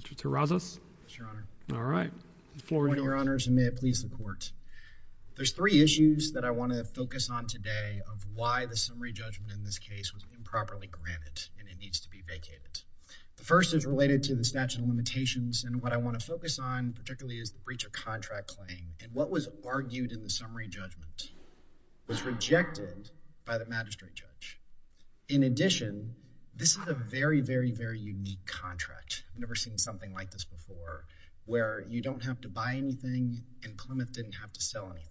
Mr. Tarazos. Your Honor. All right. Your Honor, may it please the Court. There's three issues that I want to focus on today of why the summary judgment in this case was improperly granted and it needs to be vacated. The first is related to the statute of limitations and what I want to focus on particularly is the breach of contract claim and what was argued in the summary judgment was rejected by the magistrate judge. In addition, this is a very very unique contract. I've never seen something like this before where you don't have to buy anything and Plymouth didn't have to sell anything.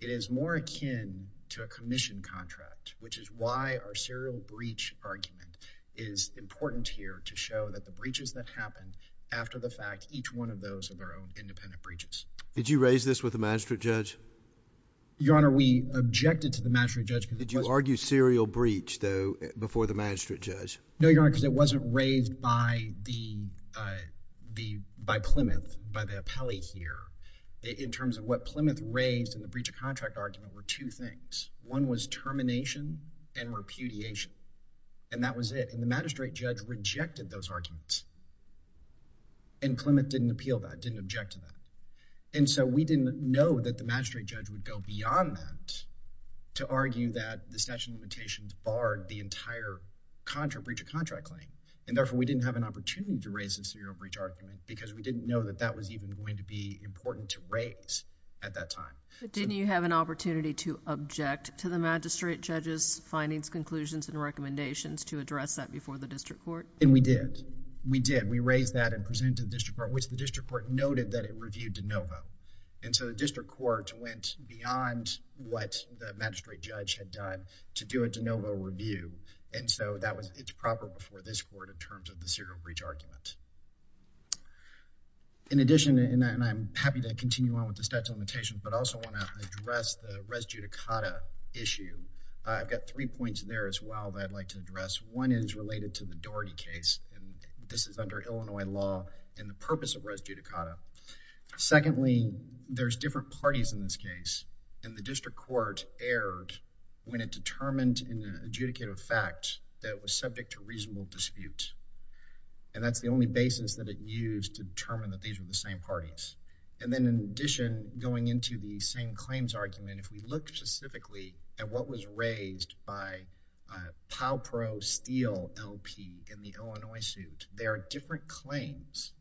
It is more akin to a commission contract which is why our serial breach argument is important here to show that the breaches that happen after the fact each one of those are their own independent breaches. Did you raise this with the magistrate judge? Your Honor, we objected to the magistrate judge. Did you argue serial breach though before the magistrate judge? No, Your Honor, because it wasn't raised by Plymouth, by the appellee here in terms of what Plymouth raised in the breach of contract argument were two things. One was termination and repudiation and that was it. The magistrate judge rejected those arguments and Plymouth didn't appeal that, didn't object to that. We didn't know that the magistrate judge would go through the entire breach of contract claim and therefore we didn't have an opportunity to raise the serial breach argument because we didn't know that that was even going to be important to raise at that time. Didn't you have an opportunity to object to the magistrate judge's findings, conclusions and recommendations to address that before the district court? We did. We did. We raised that and presented to the district court which the district court noted that it reviewed de novo. The district court went beyond what the magistrate judge had done to do a de novo review and so that was, it's proper before this court in terms of the serial breach argument. In addition and I'm happy to continue on with the statute of limitations but also want to address the res judicata issue. I've got three points there as well that I'd like to address. One is related to the Doherty case and this is under Illinois law and the purpose of res judicata. Secondly, there's different parties in this case and the it determined in an adjudicative fact that was subject to reasonable dispute and that's the only basis that it used to determine that these are the same parties. And then in addition going into the same claims argument if we look specifically at what was raised by Powell Pro Steel LP in the Illinois suit, there are different claims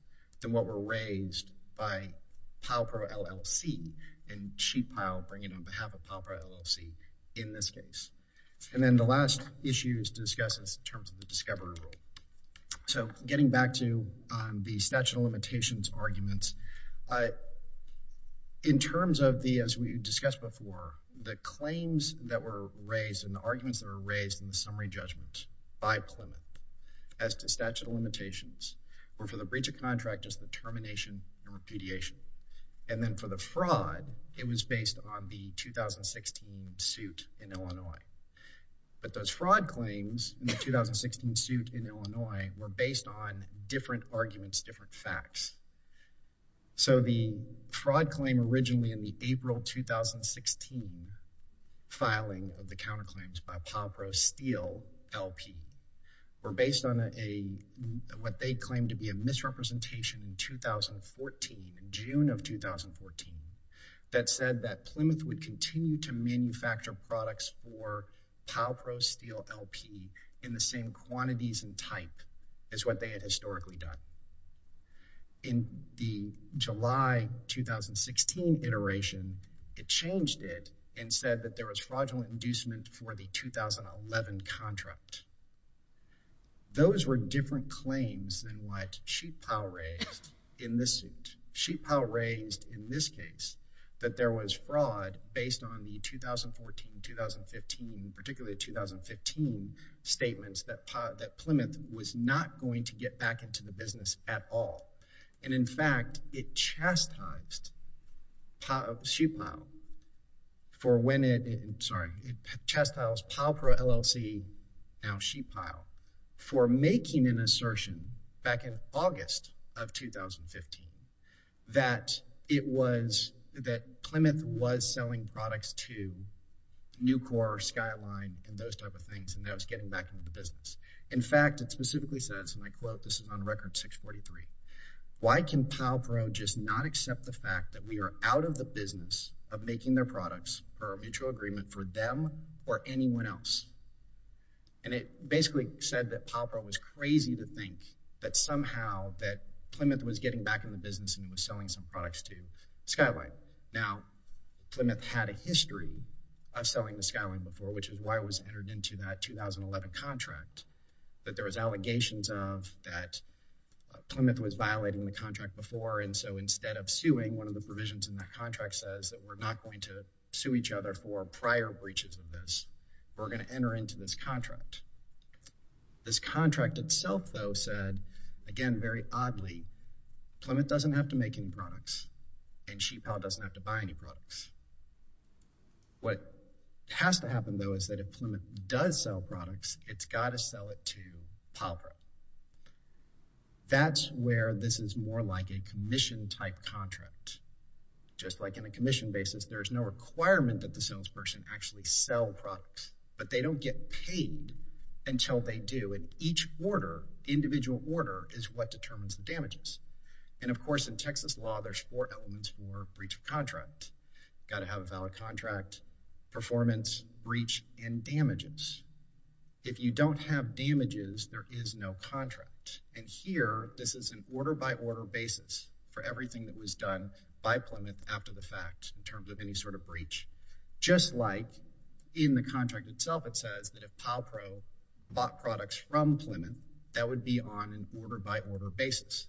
than what were raised by Powell Pro LLC and she I'll bring it on behalf of Powell Pro LLC in this case. And then the last issue is discussed in terms of the discovery rule. So getting back to the statute of limitations arguments, in terms of the as we discussed before the claims that were raised and the arguments that were raised in the summary judgment by Plymouth as to statute of limitations were for the breach of contract as the termination and then for the fraud it was based on the 2016 suit in Illinois. But those fraud claims in the 2016 suit in Illinois were based on different arguments, different facts. So the fraud claim originally in the April 2016 filing of the counter claims by Powell Pro Steel LP were based on a what they claimed to be a misrepresentation in 2014, June of 2014 that said that Plymouth would continue to manufacture products for Powell Pro Steel LP in the same quantities and type as what they had historically done. In the July 2016 iteration it changed it and said that there was fraudulent inducement for the 2011 contract. Those were different claims than what Sheetpile raised in this suit. Sheetpile raised in this case that there was fraud based on the 2014-2015, particularly 2015 statements that Plymouth was not going to get back into the business at all. And in fact it chastised Sheetpile for when it, sorry, it chastised Powell Pro making an assertion back in August of 2015 that it was that Plymouth was selling products to Nucor, Skyline and those type of things and that was getting back into the business. In fact it specifically says and I quote this is on record 643, why can Powell Pro just not accept the fact that we are out of the business of making their products for a mutual agreement for them or anyone else? And it basically said that Powell Pro was crazy to think that somehow that Plymouth was getting back in the business and was selling some products to Skyline. Now Plymouth had a history of selling to Skyline before which is why it was entered into that 2011 contract that there was allegations of that Plymouth was violating the contract before and so instead of suing one of the provisions in that contract says that we're not going to sue each other for prior breaches of this. We're going to enter into this contract. This contract itself though said again very oddly Plymouth doesn't have to make any products and Sheetpile doesn't have to buy any products. What has to happen though is that if Plymouth does sell products it's got to sell it to Powell Pro. That's where this is more like a commission type contract. Just like in a salesperson actually sell products but they don't get paid until they do and each order individual order is what determines the damages and of course in Texas law there's four elements for breach of contract. Got to have a valid contract, performance, breach, and damages. If you don't have damages there is no contract and here this is an order-by-order basis for everything that Plymouth after the fact in terms of any sort of breach. Just like in the contract itself it says that if Powell Pro bought products from Plymouth that would be on an order-by-order basis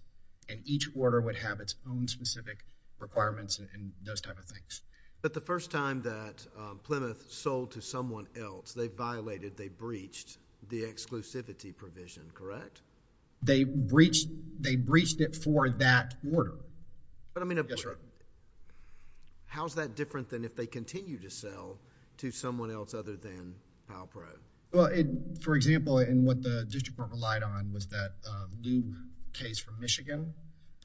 and each order would have its own specific requirements and those type of things. But the first time that Plymouth sold to someone else they violated they breached the exclusivity provision correct? They breached it for that order. But I mean... Yes sir. How is that different than if they continue to sell to someone else other than Powell Pro? Well, for example in what the district court relied on was that new case from Michigan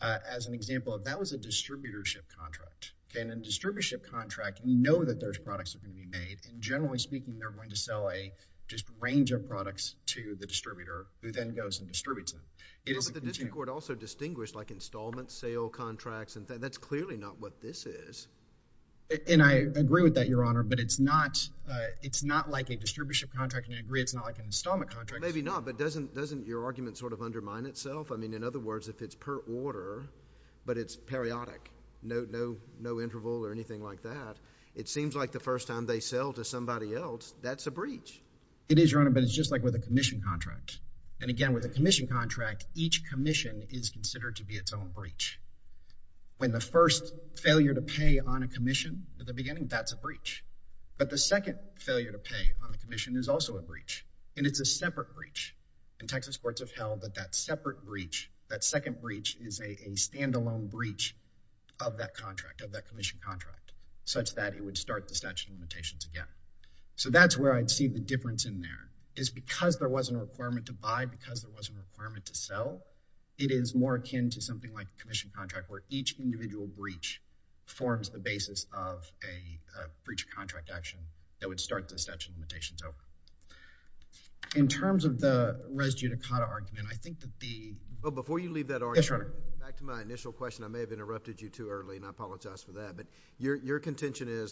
as an example of that was a distributorship contract. In a distributorship contract you know that there's products that are going to be made and generally speaking they're going to sell a just range of products to the distributor who then goes and distributes them. It is... But the district court also distinguished like installment sale contracts and that's clearly not what this is. And I agree with that your honor but it's not it's not like a distribution contract and I agree it's not like an installment contract. Maybe not but doesn't doesn't your argument sort of undermine itself? I mean in other words if it's per order but it's periodic no no no interval or anything like that it seems like the first time they sell to somebody else that's a breach. It is your honor but it's just like with a commission contract and again with a commission contract each commission is considered to be its own breach. When the first failure to pay on a commission at the beginning that's a breach but the second failure to pay on the commission is also a breach and it's a separate breach and Texas courts have held that that separate breach that second breach is a standalone breach of that contract of that commission contract such that it would start the statute of limitations again. So that's where I'd see the difference in there is because there wasn't a requirement to buy because it wasn't a requirement to sell it is more akin to something like a commission contract where each individual breach forms the basis of a breach of contract action that would start the statute of limitations over. In terms of the res judicata argument I think that the. Well before you leave that argument. Yes your honor. Back to my initial question I may have interrupted you too early and I believe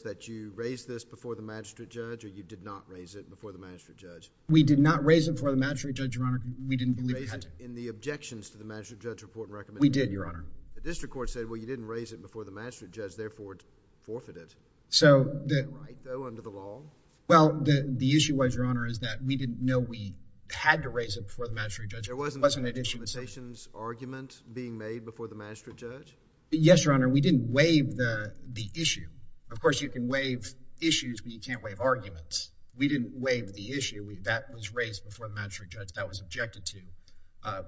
that you raised this before the magistrate judge or you did not raise it before the magistrate judge. We did not raise it for the magistrate judge your honor we didn't believe. In the objections to the magistrate judge report recommended. We did your honor. The district court said well you didn't raise it before the magistrate judge therefore it's forfeited. So. Do I go under the law? Well the issue was your honor is that we didn't know we had to raise it for the magistrate judge. There wasn't a limitations argument being made before the magistrate judge? Yes your honor we didn't waive the the issue. Of course you can waive issues but you can't waive arguments. We didn't waive the issue. That was raised before the magistrate judge. That was objected to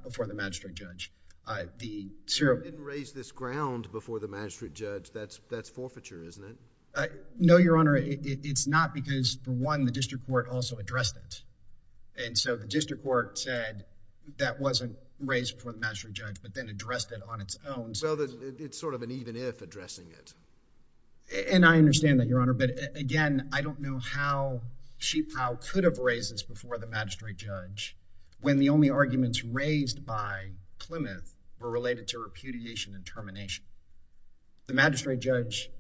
before the magistrate judge. You didn't raise this ground before the magistrate judge that's that's forfeiture isn't it? No your honor it's not because the one the district court also addressed it. And so the district court said that wasn't raised for the magistrate judge but then addressed it on its own. So it's sort of an even if addressing it. And I understand that your honor but again I don't know how she how could have raised this before the magistrate judge when the only arguments raised by Plymouth were related to repudiation and termination. The magistrate judge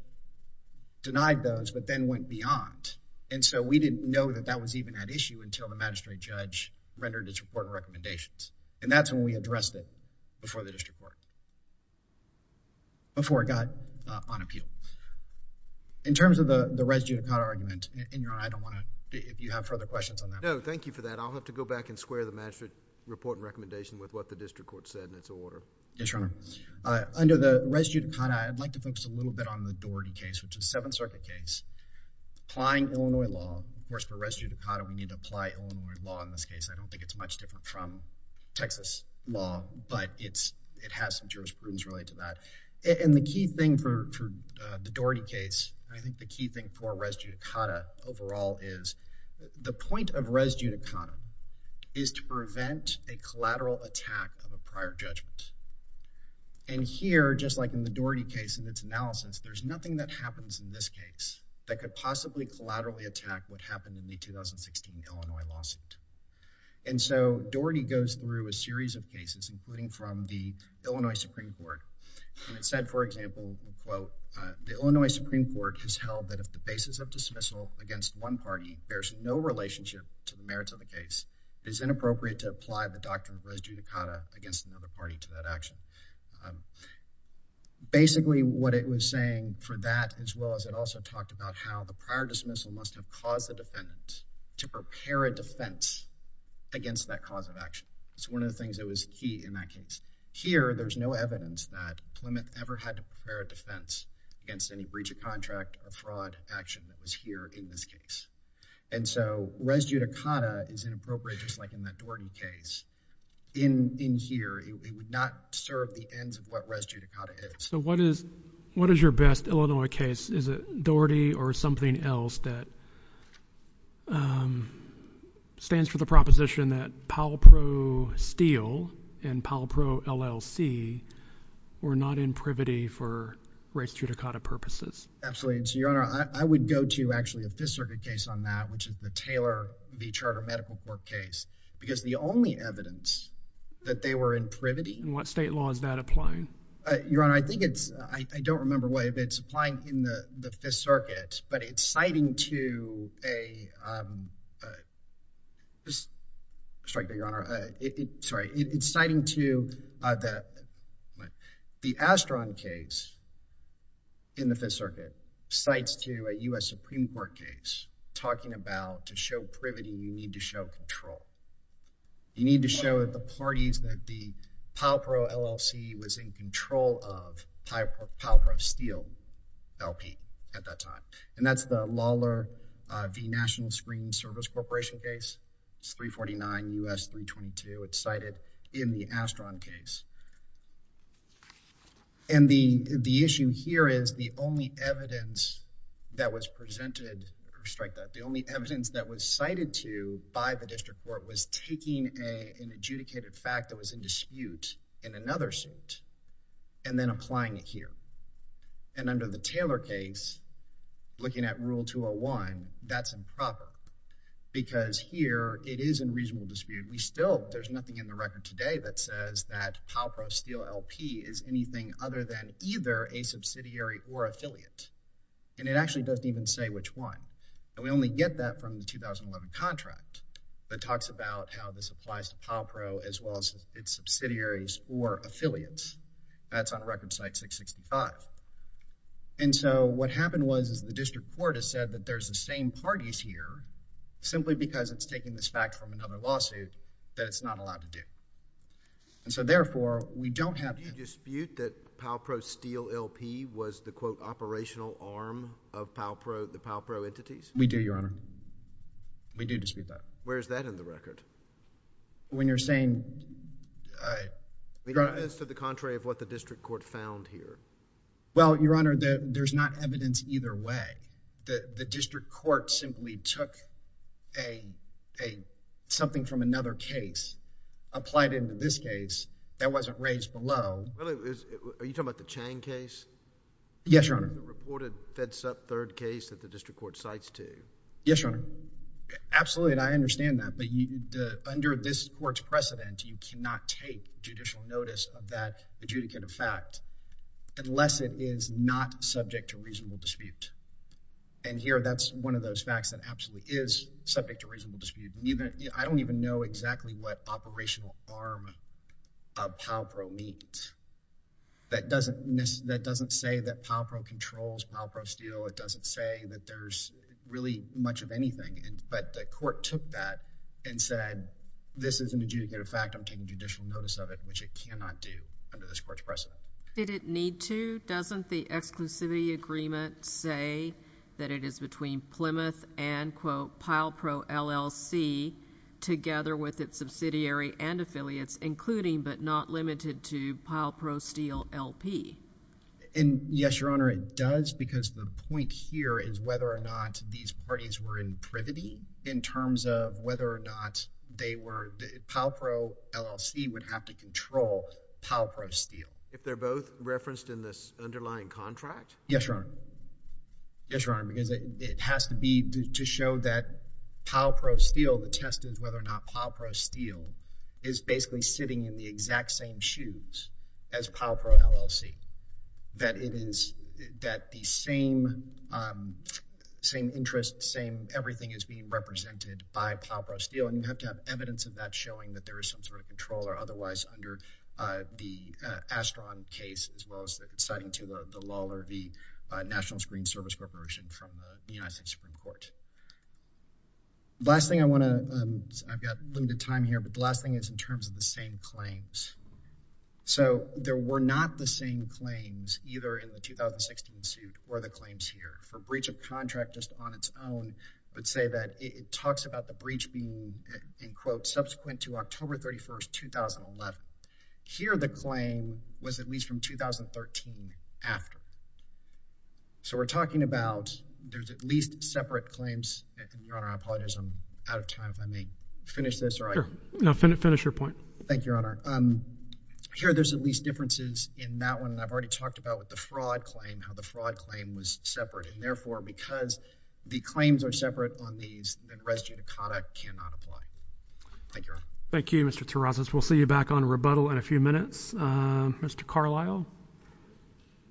denied those but then went beyond and so we didn't know that that was even an issue until the magistrate judge rendered its report recommendations and that's when we addressed it before the district court. Before it got on appeal. In terms of the the res judicata argument in your honor I don't want to if you have further questions on that. No thank you for that I'll have to go back and square the magistrate report and recommendation with what the district court said in its order. Yes your honor. Under the res judicata I'd like to focus a little bit on the Doherty case which is seventh circuit case applying Illinois law. Of course for res judicata we need to apply Illinois law in this case. I don't think it's much different from Texas law but it's it has some jurisprudence related to that. And the key thing for the Doherty case I think the key thing for res judicata overall is the point of res judicata is to prevent a collateral attack of a prior judgment. And here just like in the Doherty case in its analysis there's nothing that happens in this case that could possibly collaterally attack what happened in the 2016 Illinois lawsuit. And so Doherty goes through a series of cases including from the Illinois Supreme Court and it said for example quote the Illinois Supreme Court has held that if the basis of dismissal against one party bears no relationship to the merits of the case it is inappropriate to apply the doctrine of res judicata against another party to that action. Basically what it was saying for that as well as it also talked about how the prior dismissal must have caused the defendants to prepare a defense against that cause of action. It's one of the things that was key in that case. Here there's no evidence that Plymouth ever had to prepare a defense against any breach of contract or fraud action that was here in this case. And so res judicata is inappropriate just like in that Doherty case. In here it would not serve the ends of what res judicata is. So what is what is your best Illinois case is it Doherty or something else that stands for the proposition that Powell Pro Steele and Powell Pro LLC were not in privity for res judicata purposes? Absolutely. Your Honor I would go to actually a Fifth Circuit case on that which is the Taylor v. Charter Medical Court case because the only evidence that they were in privity. What state law is that applying? Your Honor I think it's I don't remember why but it's in the Fifth Circuit but it's citing to a, sorry Your Honor, sorry it's citing to that the Astron case in the Fifth Circuit cites to a US Supreme Court case talking about to show privity you need to show control. You need to show the parties that the Powell Pro LLC was in control of Powell Pro Steele LP at that time and that's the Lawler v. National Screening Service Corporation case. It's 349 U.S. 322. It's cited in the Astron case and the the issue here is the only evidence that was presented, strike that, the only evidence that was cited to by the district court was taking a an adjudicated fact that was in dispute in applying it here and under the Taylor case looking at rule 201 that's improper because here it is in reasonable dispute. We still there's nothing in the record today that says that Powell Pro Steele LP is anything other than either a subsidiary or affiliate and it actually doesn't even say which one and we only get that from the 2011 contract that talks about how this applies to Powell Pro as well as its subsidiaries or affiliates. That's on record site 665 and so what happened was is the district court has said that there's the same parties here simply because it's taking this fact from another lawsuit that it's not allowed to do and so therefore we don't have. Do you dispute that Powell Pro Steele LP was the quote operational arm of Powell Pro, the Powell Pro entities? We do, Your Honor. We do dispute that. Where is that in the record? When you're saying. I mean, that is to the contrary of what the district court found here. Well, Your Honor, there's not evidence either way. The district court simply took a something from another case, applied it in this case, that wasn't raised below. Are you talking about the Chang case? Yes, Your Honor. The reported fed sub third case that the district court cites to? Yes, Your Honor. Absolutely and I understand that but under this court's precedent, you can't dispute that unless it is not subject to reasonable dispute and here that's one of those facts that absolutely is subject to reasonable dispute. I don't even know exactly what operational arm of Powell Pro means. That doesn't say that Powell Pro controls Powell Pro Steele. It doesn't say that there's really much of anything but the court took that and said this is an adjudicative fact. I'm taking judicial notice of it which it didn't need to. Doesn't the exclusivity agreement say that it is between Plymouth and quote Pyle Pro LLC together with its subsidiary and affiliates, including but not limited to Pyle Pro Steele LP. And yes, Your Honor, it does because the point here is whether or not these parties were in privity in terms of whether or not they were Powell Pro LLC would have to be referenced in this underlying contract? Yes, Your Honor. Yes, Your Honor, because it has to be to show that Powell Pro Steele, the test is whether or not Powell Pro Steele is basically sitting in the exact same shoes as Powell Pro LLC. That it is that the same same interest, same everything is being represented by Powell Pro Steele and you have to have evidence of that showing that there is some sort of control or otherwise under the Ashton case as well as that citing to the Lawler v. National Screen Service Corporation from the United States Supreme Court. Last thing I want to, I've got limited time here, but the last thing is in terms of the same claims. So there were not the same claims either in the 2016 suit or the claims here. For breach of contract just on its own, I would say that it talks about the breach being in quote subsequent to October 31st, 2011. Here the claim was at least from 2013 after. So we're talking about there's at least separate claims. Your Honor, I apologize, I'm out of time. Let me finish this. No, finish your point. Thank you, Your Honor. Here there's at least differences in that one. I've already talked about with the fraud claim, how the fraud claim was separate and therefore because the claims are these, the res judicata cannot apply. Thank you, Your Honor. Thank you, Mr. Terrazas. We'll see you back on rebuttal in a few minutes. Mr. Carlisle.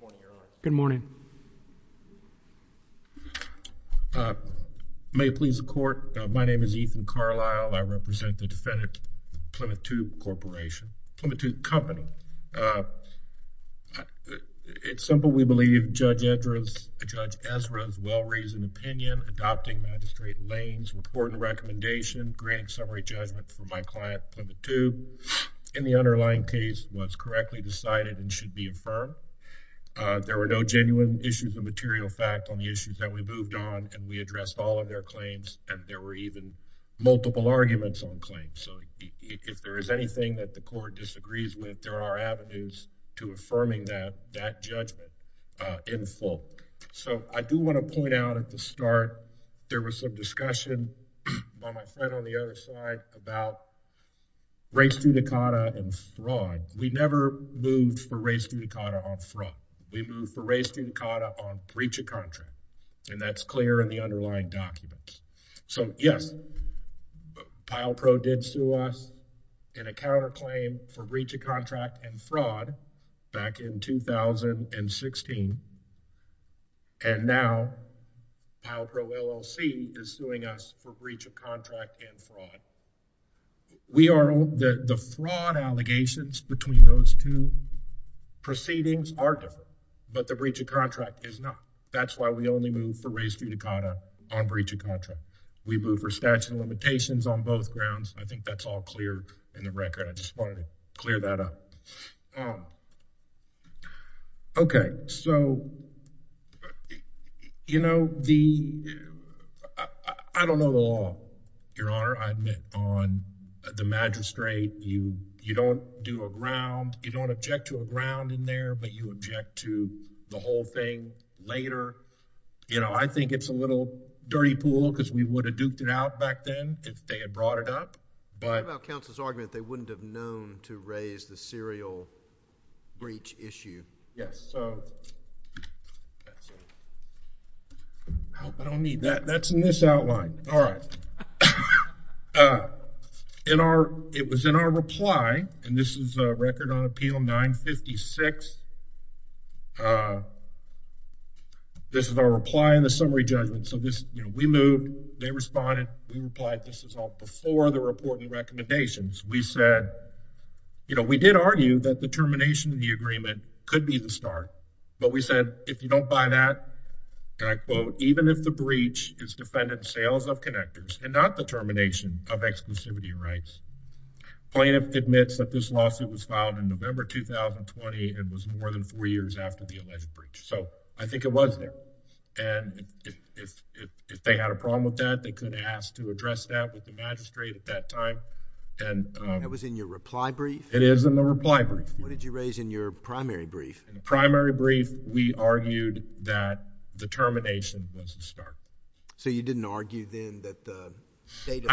Good morning, Your Honor. Good morning. May it please the court, my name is Ethan Carlisle. I represent the defendant Plymouth 2 Corporation, Plymouth 2 Company. It's simple, we believe Judge Ezra's well-reasoned opinion adopting Magistrate Lane's report and recommendation granting summary judgment for my client, Plymouth 2, in the underlying case was correctly decided and should be affirmed. There were no genuine issues of material fact on the issues that we moved on and we addressed all of their claims and there were even multiple arguments on claims. So if there is anything that the court disagrees with, there are avenues to affirming that judgment in full. So I do want to point out at the start, there was some discussion by my friend on the other side about res judicata and fraud. We never moved for res judicata on fraud. We moved for res judicata on breach of contract and that's clear in the underlying documents. So yes, Pyle Pro did sue us in counterclaim for breach of contract and fraud back in 2016 and now Pyle Pro LLC is suing us for breach of contract and fraud. The fraud allegations between those two proceedings are different, but the breach of contract is not. That's why we only moved for res judicata on breach of contract. We moved for statute of limitations on both grounds. I think that's all clear in the background. I just wanted to clear that up. Okay, so, you know, the, I don't know the law, Your Honor. I admit on the magistrate, you don't do a ground, you don't object to a ground in there, but you object to the whole thing later. You know, I think it's a little dirty pool because we would have duked it out back then if they had brought it up. What about counsel's argument that they wouldn't have known to raise the serial breach issue? Yes, so, I don't need that. That's in this outline. All right. In our, it was in our reply, and this is a record on appeal 956. This is our reply in the summary judgment. So this, you know, we moved. They responded. We replied. This is all before the reporting recommendations. We said, you know, we did argue that the termination of the agreement could be the start. But we said, if you don't buy that, and I quote, even if the breach is defendant sales of connectors and not the termination of exclusivity rights, plaintiff admits that this lawsuit was filed in November 2020. It was more than four years after the alleged breach. So I think if they had a problem with that, they could have asked to address that with the magistrate at that time. And it was in your reply brief? It is in the reply brief. What did you raise in your primary brief? In the primary brief, we argued that the termination was the start. So you didn't argue then that the date?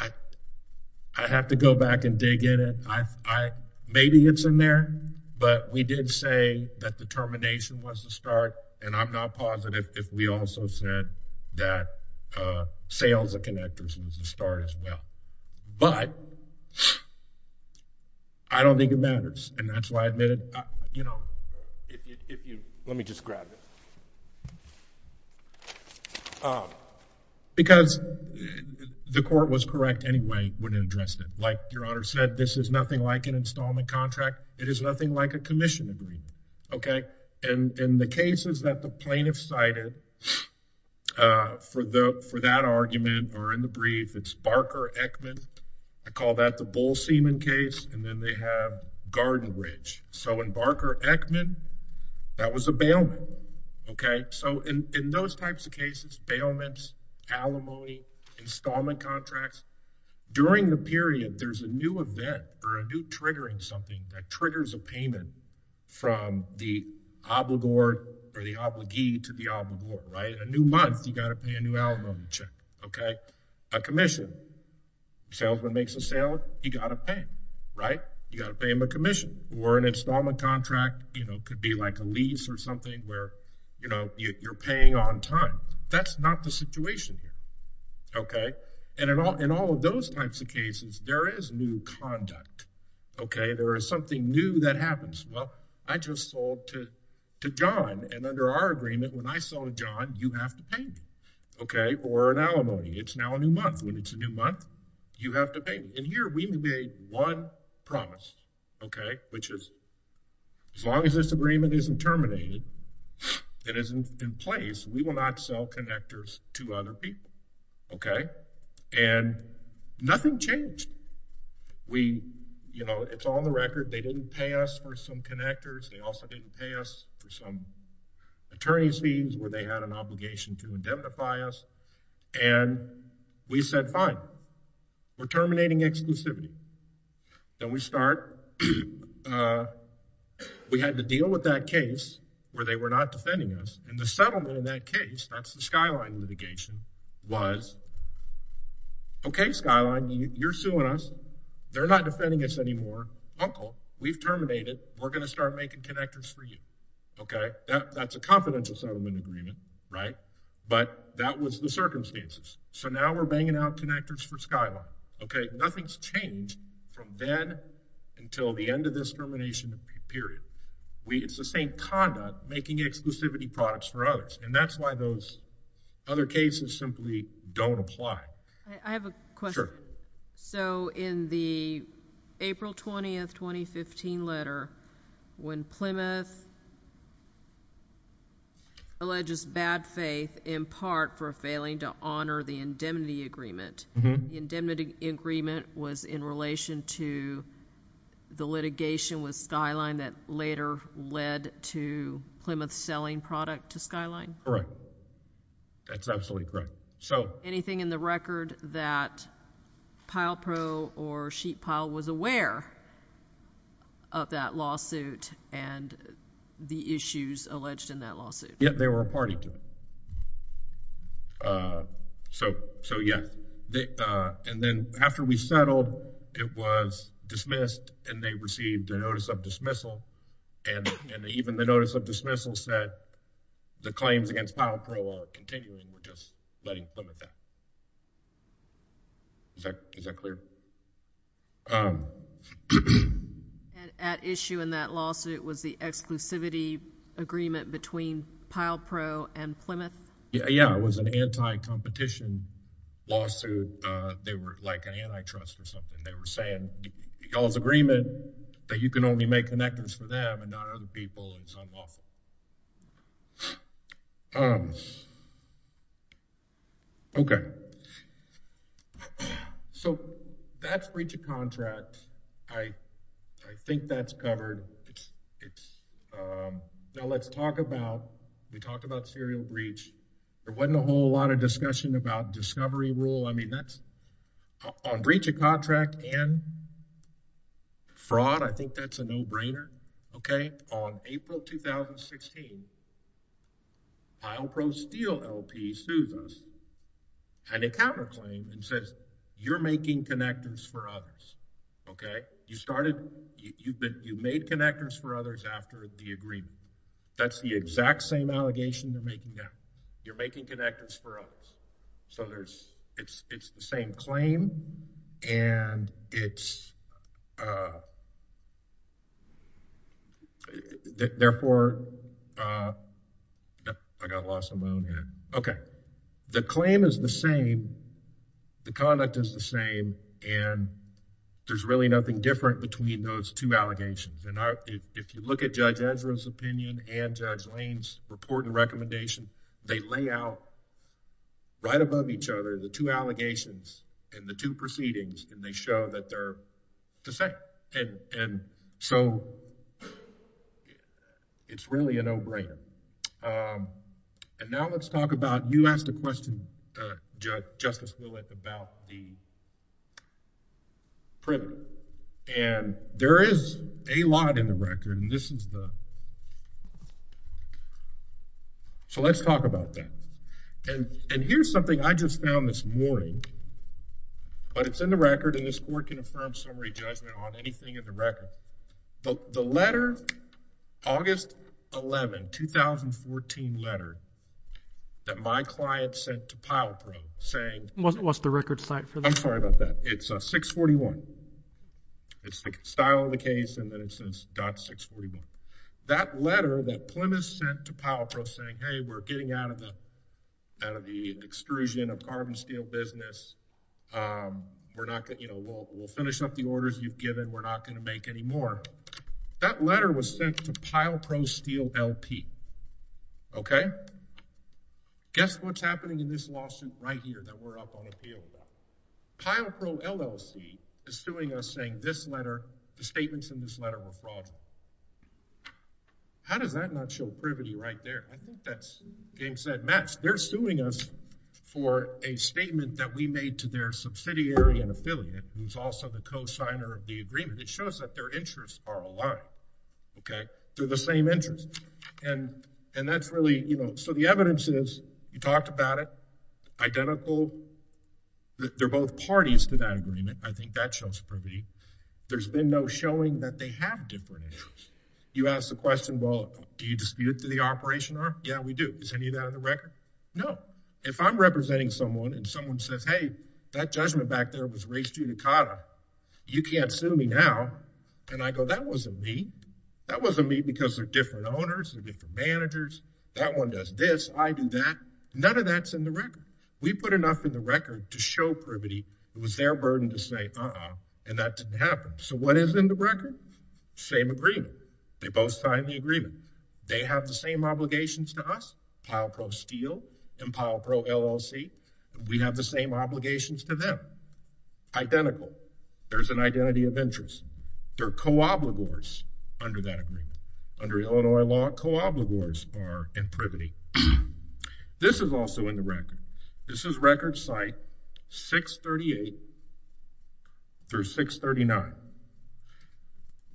I have to go back and dig in it. I, maybe it's in there, but we did say that the termination was the start. And I'm not positive if we also said that sales of connectors was the start as well. But I don't think it matters. And that's why I admitted, you know, if you let me just grab it because the court was correct anyway when it addressed it. Like your honor said, this is nothing like an installment contract. It is nothing like a commission agreement. Okay. And in the cases that the plaintiff cited for that argument or in the brief, it's Barker-Eckman. I call that the Bull Seaman case. And then they have Garden Ridge. So in Barker-Eckman, that was a bailment. Okay. So in those types of cases, bailments, alimony, installment contracts, during the period, there's a new event or a new triggering something that triggers a payment from the obligor or the obligee to the obligor, right? A new month, you got to pay a new alimony check. Okay. A commission, salesman makes a sale, you got to pay, right? You got to pay him a commission or an installment contract, you know, could be like a lease or something where, you know, you're paying on time. That's not the situation here. Okay. And in all of those types of cases, there's something new that happens. Well, I just sold to John. And under our agreement, when I sold to John, you have to pay me, okay, for an alimony. It's now a new month. When it's a new month, you have to pay me. And here, we made one promise, okay, which is as long as this agreement isn't terminated, it isn't in place, we will not sell connectors to other people. Okay. And nothing changed. We, you know, it's on the record, they didn't pay us for some connectors. They also didn't pay us for some attorney's fees where they had an obligation to indemnify us. And we said, fine, we're terminating exclusivity. Then we start, we had to deal with that case where they were not was, okay, Skyline, you're suing us. They're not defending us anymore. Uncle, we've terminated. We're going to start making connectors for you. Okay. That's a confidential settlement agreement. Right. But that was the circumstances. So now we're banging out connectors for Skyline. Okay. Nothing's changed from then until the end of this termination period. We, it's the same conduct making exclusivity products for others. And that's why those other cases simply don't apply. I have a question. Sure. So in the April 20th, 2015 letter, when Plymouth alleges bad faith in part for failing to honor the indemnity agreement, the indemnity agreement was in relation to the litigation with selling product to Skyline? Correct. That's absolutely correct. So anything in the record that Pile Pro or Sheet Pile was aware of that lawsuit and the issues alleged in that lawsuit? Yeah, they were a party to it. So, so yeah. And then after we settled, it was dismissed and they received a notice of that the claims against Pile Pro are continuing. We're just letting Plymouth out. Is that, is that clear? And at issue in that lawsuit was the exclusivity agreement between Pile Pro and Plymouth? Yeah. It was an anti-competition lawsuit. They were like an antitrust or something. They were saying, y'all's agreement that you can only make connectors for them and not other people in some law firm. Okay. So that's breach of contract. I, I think that's covered. It's now let's talk about, we talked about serial breach. There wasn't a whole lot of discussion about discovery rule. I mean, that's on breach of contract and fraud. I think that's a no brainer. Okay. On April, 2016, Pile Pro Steel LP sued us and it counter claimed and says, you're making connectors for others. Okay. You started, you've been, you made connectors for others after the agreement. That's the exact same allegation they're making now. You're making connectors for others. So there's, it's, it's the same claim and it's, uh, therefore, uh, I got lost on my own here. Okay. The claim is the same. The conduct is the same and there's really nothing different between those two allegations. And if you look at Judge Ezra's opinion and Judge Lane's report and recommendation, they lay out right above each other, the two allegations and the two proceedings, and they show that they're the same. And, and so it's really a no brainer. Um, and now let's talk about, you asked a question, uh, Judge, Justice Willett about the record. So let's talk about that. And, and here's something I just found this morning, but it's in the record and this court can affirm summary judgment on anything in the record. The, the letter, August 11, 2014 letter that my client sent to Pile Pro saying. What's the record site for that? I'm sorry about that. It's a 641. It's the style of the case. And then it says dot 641. That letter that Plymouth sent to Pile Pro saying, Hey, we're getting out of the, out of the extrusion of carbon steel business. Um, we're not going to, you know, we'll, we'll finish up the orders you've given. We're not going to make any more. That letter was sent to Pile Pro steel LP. Okay. Guess what's Pile Pro LLC is suing us saying this letter, the statements in this letter were fraudulent. How does that not show privity right there? I think that's getting said match. They're suing us for a statement that we made to their subsidiary and affiliate, who's also the co-signer of the agreement. It shows that their interests are aligned. Okay. They're the same interest. And, and that's really, you know, so the evidence is you talked about it identical. They're both parties to that agreement. I think that shows privity. There's been no showing that they have different interests. You asked the question, well, do you dispute to the operation arm? Yeah, we do. Is any of that on the record? No. If I'm representing someone and someone says, Hey, that judgment back there was raised unicata. You can't sue me now. And I go, that wasn't me. That wasn't me because they're different owners, they're different managers. That one does this. I do that. None of that's in the record. We put enough in the record to show privity. It was their burden to say, uh, and that didn't happen. So what is in the record? Same agreement. They both signed the agreement. They have the same obligations to us. Pile Pro Steel and Pile Pro LLC. We have the same obligations to them. Identical. There's an identity of interest. They're co-obligors under that agreement. Under Illinois law, co-obligors are in the record. This is record site 638 through 639.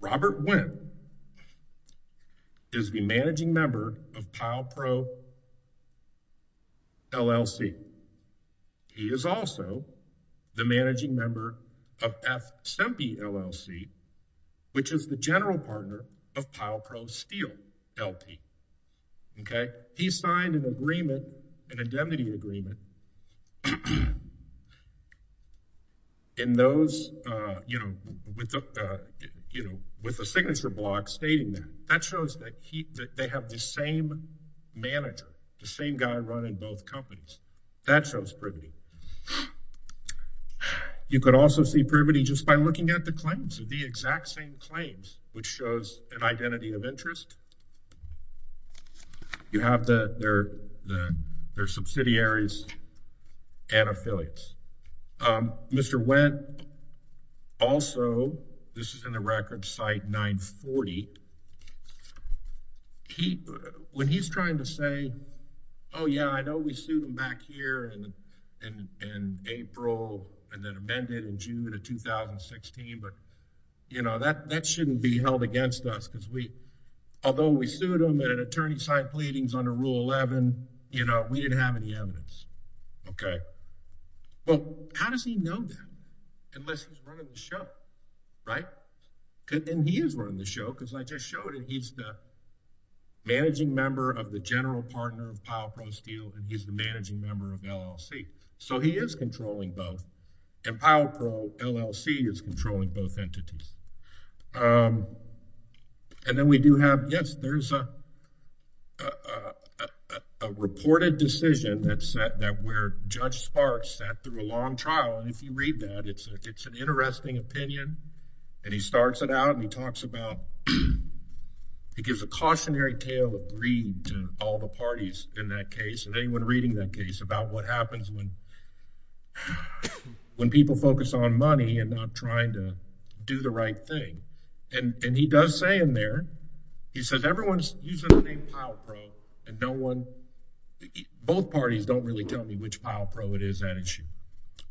Robert Wynn is the managing member of Pile Pro LLC. He is also the managing member of F Sempe LLC, which is the general partner of Pile Pro Steel LP. Okay. He signed an agreement, an identity agreement in those, uh, you know, with the, uh, you know, with the signature block stating that. That shows that he, that they have the same manager, the same guy running both companies. That shows privity. You could also see privity just by looking at the claims of the exact same claims, which shows an identity of interest. You have the, they're, they're subsidiaries and affiliates. Um, Mr. Wynn also, this is in the record site 940. He, when he's trying to say, oh yeah, I know we sued him back here in, in April and then amended in June of 2016. But you know, that, that shouldn't be held against us because we, although we sued him and an 11, you know, we didn't have any evidence. Okay. Well, how does he know that? Unless he's running the show, right? And he is running the show because I just showed it. He's the managing member of the general partner of Pile Pro Steel and he's the managing member of LLC. So he is controlling both and Pile Pro LLC is controlling both entities. Um, and then we do have, yes, there's a, a, a, a, a reported decision that said that where Judge Sparks sat through a long trial. And if you read that, it's a, it's an interesting opinion and he starts it out and he talks about, he gives a cautionary tale of greed to all the parties in that case and anyone reading that case about what happens when, when people focus on money and not trying to do the right thing. And, and he does say in there, he says, everyone's using the name Pile Pro and no one, both parties don't really tell me which Pile Pro it is that issue.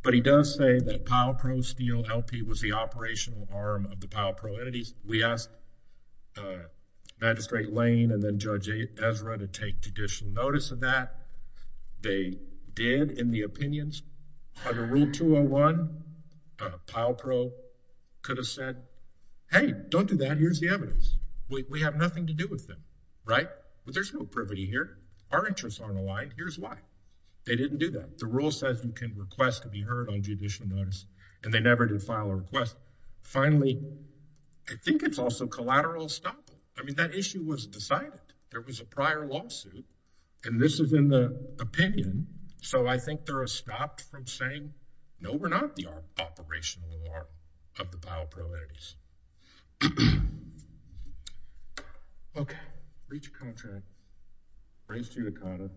But he does say that Pile Pro Steel LP was the operational arm of the Pile Pro entities. We asked, uh, Magistrate Lane and then Judge Ezra to take judicial notice of that. They did in the case, they said, Hey, don't do that. Here's the evidence. We have nothing to do with them, right? But there's no privity here. Our interests aren't aligned. Here's why they didn't do that. The rule says you can request to be heard on judicial notice and they never did file a request. Finally, I think it's also collateral stopping. I mean, that issue was decided. There was a prior lawsuit and this has been the opinion. So I think they're stopped from saying, no, we're not the operational arm of the Pile Pro entities. Okay. Reach a contract. Raise to your condo.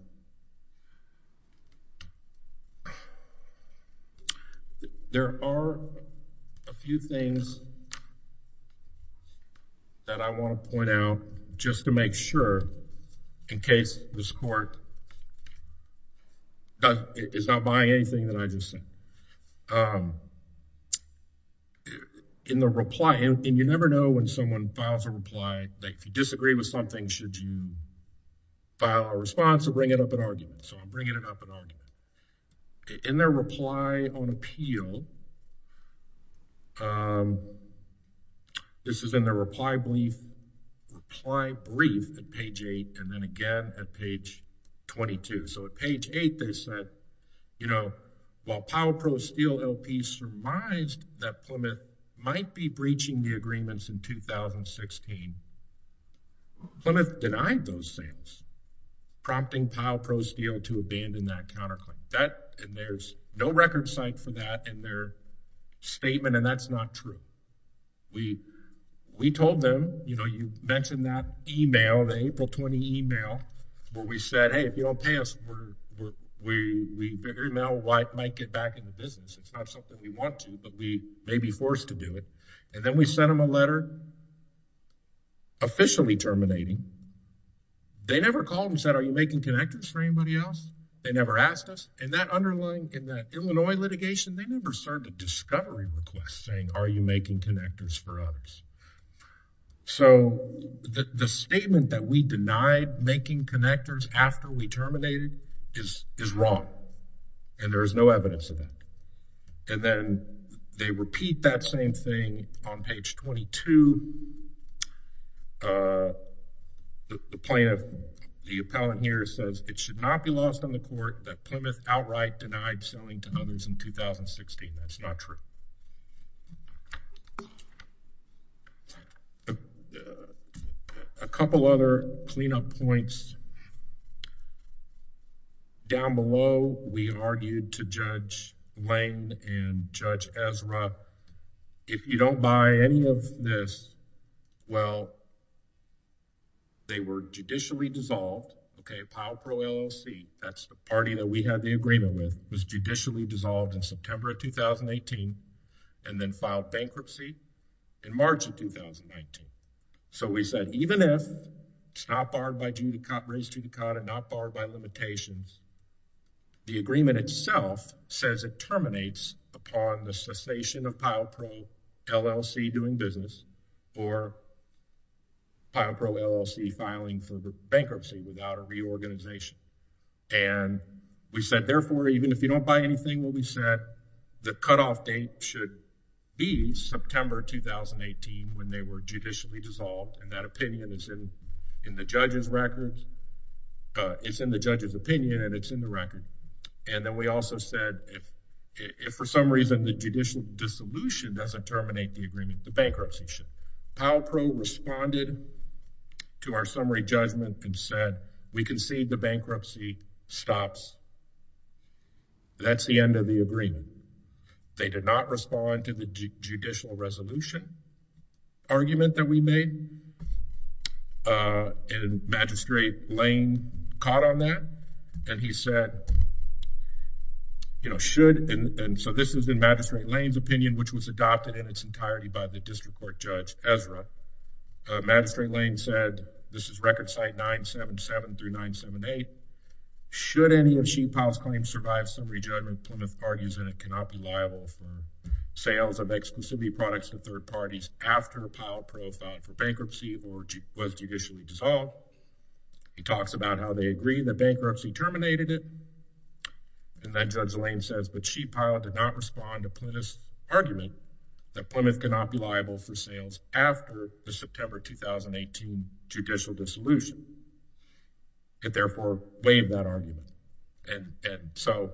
There are a few things that I want to point out just to make sure in case this court does, is not buying anything that I just said. In the reply, and you never know when someone files a reply, like if you disagree with something, should you file a response or bring it up in argument? So I'm bringing it up in argument. In their reply on appeal, this is in their reply brief, reply brief at page eight and then again at page 22. So at page eight, they said, you know, while Pile Pro Steel LP surmised that Plymouth might be breaching the agreements in 2016, Plymouth denied those things, prompting Pile Pro Steel to abandon that counterclaim. That, and there's no record site for that in their statement and that's not true. We told them, you know, you mentioned that email, the where we said, hey, if you don't pay us, we figure email might get back into business. It's not something we want to, but we may be forced to do it. And then we sent them a letter officially terminating. They never called and said, are you making connectors for anybody else? They never asked us. And that underlying, in that Illinois litigation, they never served a discovery request saying, are you making connectors for others? So the statement that we denied making connectors after we terminated is, is wrong and there is no evidence of that. And then they repeat that same thing on page 22. Uh, the plaintiff, the appellant here says it should not be lost on the court that Plymouth outright denied selling to others in 2016. That's not true. A couple other cleanup points. Down below, we argued to Judge Lane and Judge Ezra, if you don't buy any of this, well, they were judicially dissolved. Okay. Powell Pro LLC, that's the party that we had the agreement with, was judicially dissolved in September of 2018 and then filed bankruptcy in March of 2019. So we said, even if it's not barred by duty, copyrights to the con and not barred by limitations, the agreement itself says it terminates upon the cessation of Powell Pro LLC doing business or Powell Pro LLC filing for the bankruptcy without a reorganization. And we said, therefore, even if you don't buy anything, what we said, the cutoff date should be September 2018 when they were judicially dissolved and that opinion is in the judge's record. It's in the judge's opinion and it's in the record. And then we also said, if for some reason the judicial dissolution doesn't terminate the agreement, the bankruptcy should. Powell Pro responded to our that's the end of the agreement. They did not respond to the judicial resolution argument that we made. Uh, Magistrate Lane caught on that and he said, you know, should. And so this is in Magistrate Lane's opinion, which was adopted in its entirety by the District Court Judge Ezra. Uh, Magistrate Lane said this is record site 977 through 978. Should any of Powell's claims survive summary judgment, Plymouth argues in it cannot be liable for sales of exclusivity products to third parties after Powell Pro filed for bankruptcy or was judicially dissolved. He talks about how they agree the bankruptcy terminated it. And then Judge Lane says, but she, Powell did not respond to Plymouth's argument that Plymouth cannot be liable for sales after the September 2018 judicial dissolution. It therefore waived that argument. And so,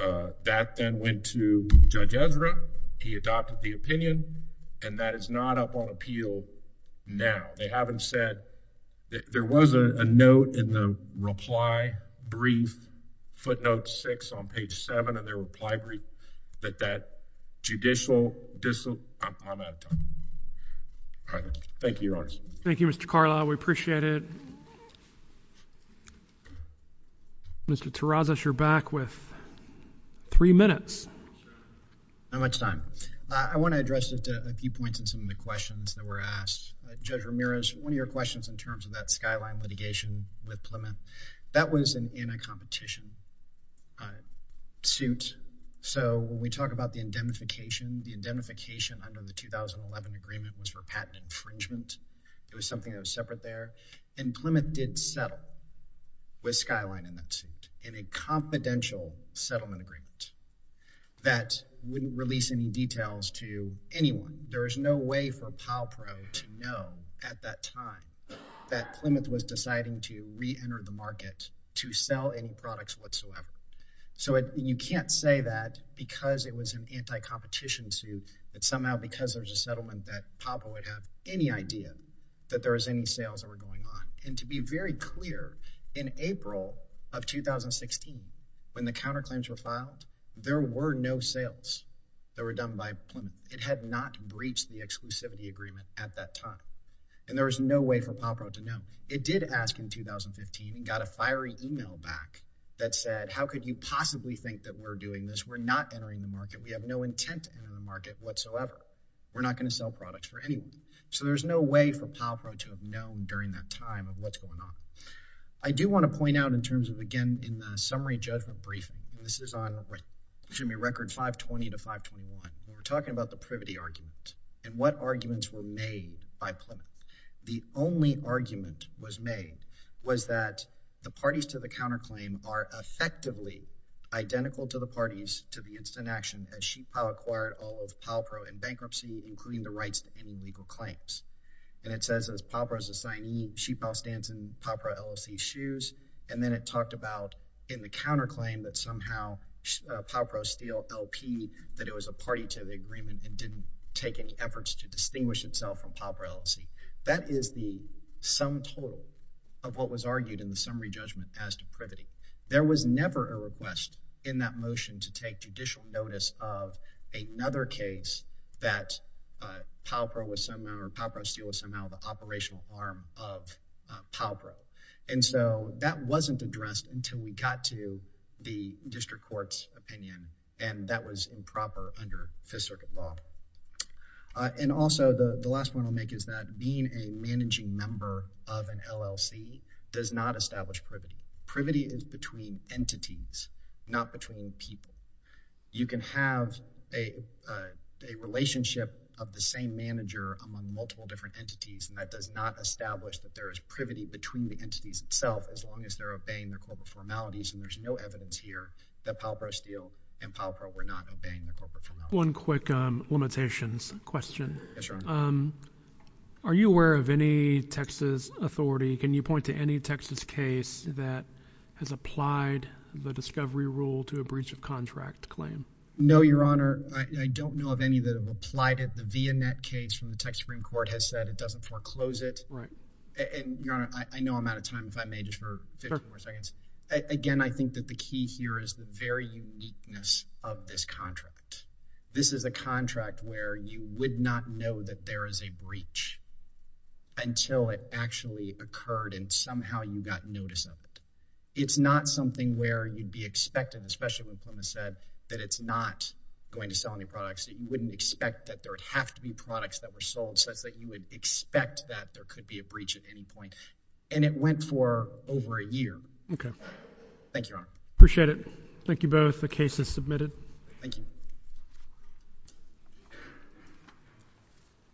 uh, that then went to Judge Ezra. He adopted the opinion, and that is not up on appeal now. They haven't said there was a note in the reply brief footnote six on page seven of their reply brief that that judicial dissolution. I'm out of time. Thank you, Your Honor. Thank you, Mr Carla. We appreciate it. Mr Tarazos, you're back with three minutes. How much time? I want to address it a few points in some of the questions that were asked. Judge Ramirez, one of your questions in terms of that skyline litigation with Plymouth that was in a competition suit. So when we talk about the indemnification, the indemnification under the 2011 agreement was for patent infringement. It was something that was separate there, and Plymouth did settle with Skyline in a confidential settlement agreement that wouldn't release any details to anyone. There is no way for Powell Pro to know at that time that Plymouth was deciding to reenter the market to sell any products whatsoever. So you can't say that because it was an anti competition suit that somehow because there's a settlement that Papa would have any idea that there is any sales that were going on. And to be very clear, in April of 2016, when the counterclaims were filed, there were no sales that were done by Plymouth. It had not breached the exclusivity agreement at that time, and there is no way for Papa to know. It did ask in 2015 and got a statement that said, if you possibly think that we're doing this, we're not entering the market. We have no intent in the market whatsoever. We're not gonna sell products for anyone. So there's no way for Papa to have known during that time of what's going on. I do wanna point out in terms of, again, in the summary judgment brief, and this is on, excuse me, record 520 to 521. We're talking about the privity argument and what arguments were made by Plymouth. The only argument was made was that the parties to the counterclaim are effectively identical to the parties to the instant action as Sheetpal acquired all of Palpro in bankruptcy, including the rights to any legal claims. And it says, as Palpro's assignee, Sheetpal stands in Palpro LLC's shoes. And then it talked about in the counterclaim that somehow Palpro steal LP, that it was a party to the agreement and didn't take any efforts to distinguish itself from Palpro LLC. That is the sum total of what was argued in the summary judgment as to privity. There was never a request in that motion to take judicial notice of another case that Palpro was somehow, or Palpro steal was somehow the operational arm of Palpro. And so that wasn't addressed until we got to the district court's opinion, and that was improper under Fifth Circuit law. And also, the last point I'll make is that being a managing member of an LLC does not establish privity. Privity is between entities, not between people. You can have a relationship of the same manager among multiple different entities, and that does not establish that there is privity between the entities itself, as long as they're obeying the corporate formalities. And there's no evidence here that Palpro steal and Palpro were not obeying the corporate formalities. One quick limitations question. Yes, Your Honor. Are you aware of any Texas authority, can you point to any Texas case that has applied the discovery rule to a breach of contract claim? No, Your Honor. I don't know of any that have applied it. The Vianette case from the Texas Supreme Court has said it doesn't foreclose it. Right. And Your Honor, I know I'm out of time if I may, just for 54 seconds. Again, I think that the key here is the very uniqueness of this contract. This is a contract where you would not know that there is a breach until it actually occurred and somehow you got notice of it. It's not something where you'd be expecting, especially when Plymouth said that it's not going to sell any products, that you wouldn't expect that there would have to be products that were sold such that you would expect that there could be a breach at any point. And it went for over a year. Okay. Thank you, both. The case is submitted. Thank you.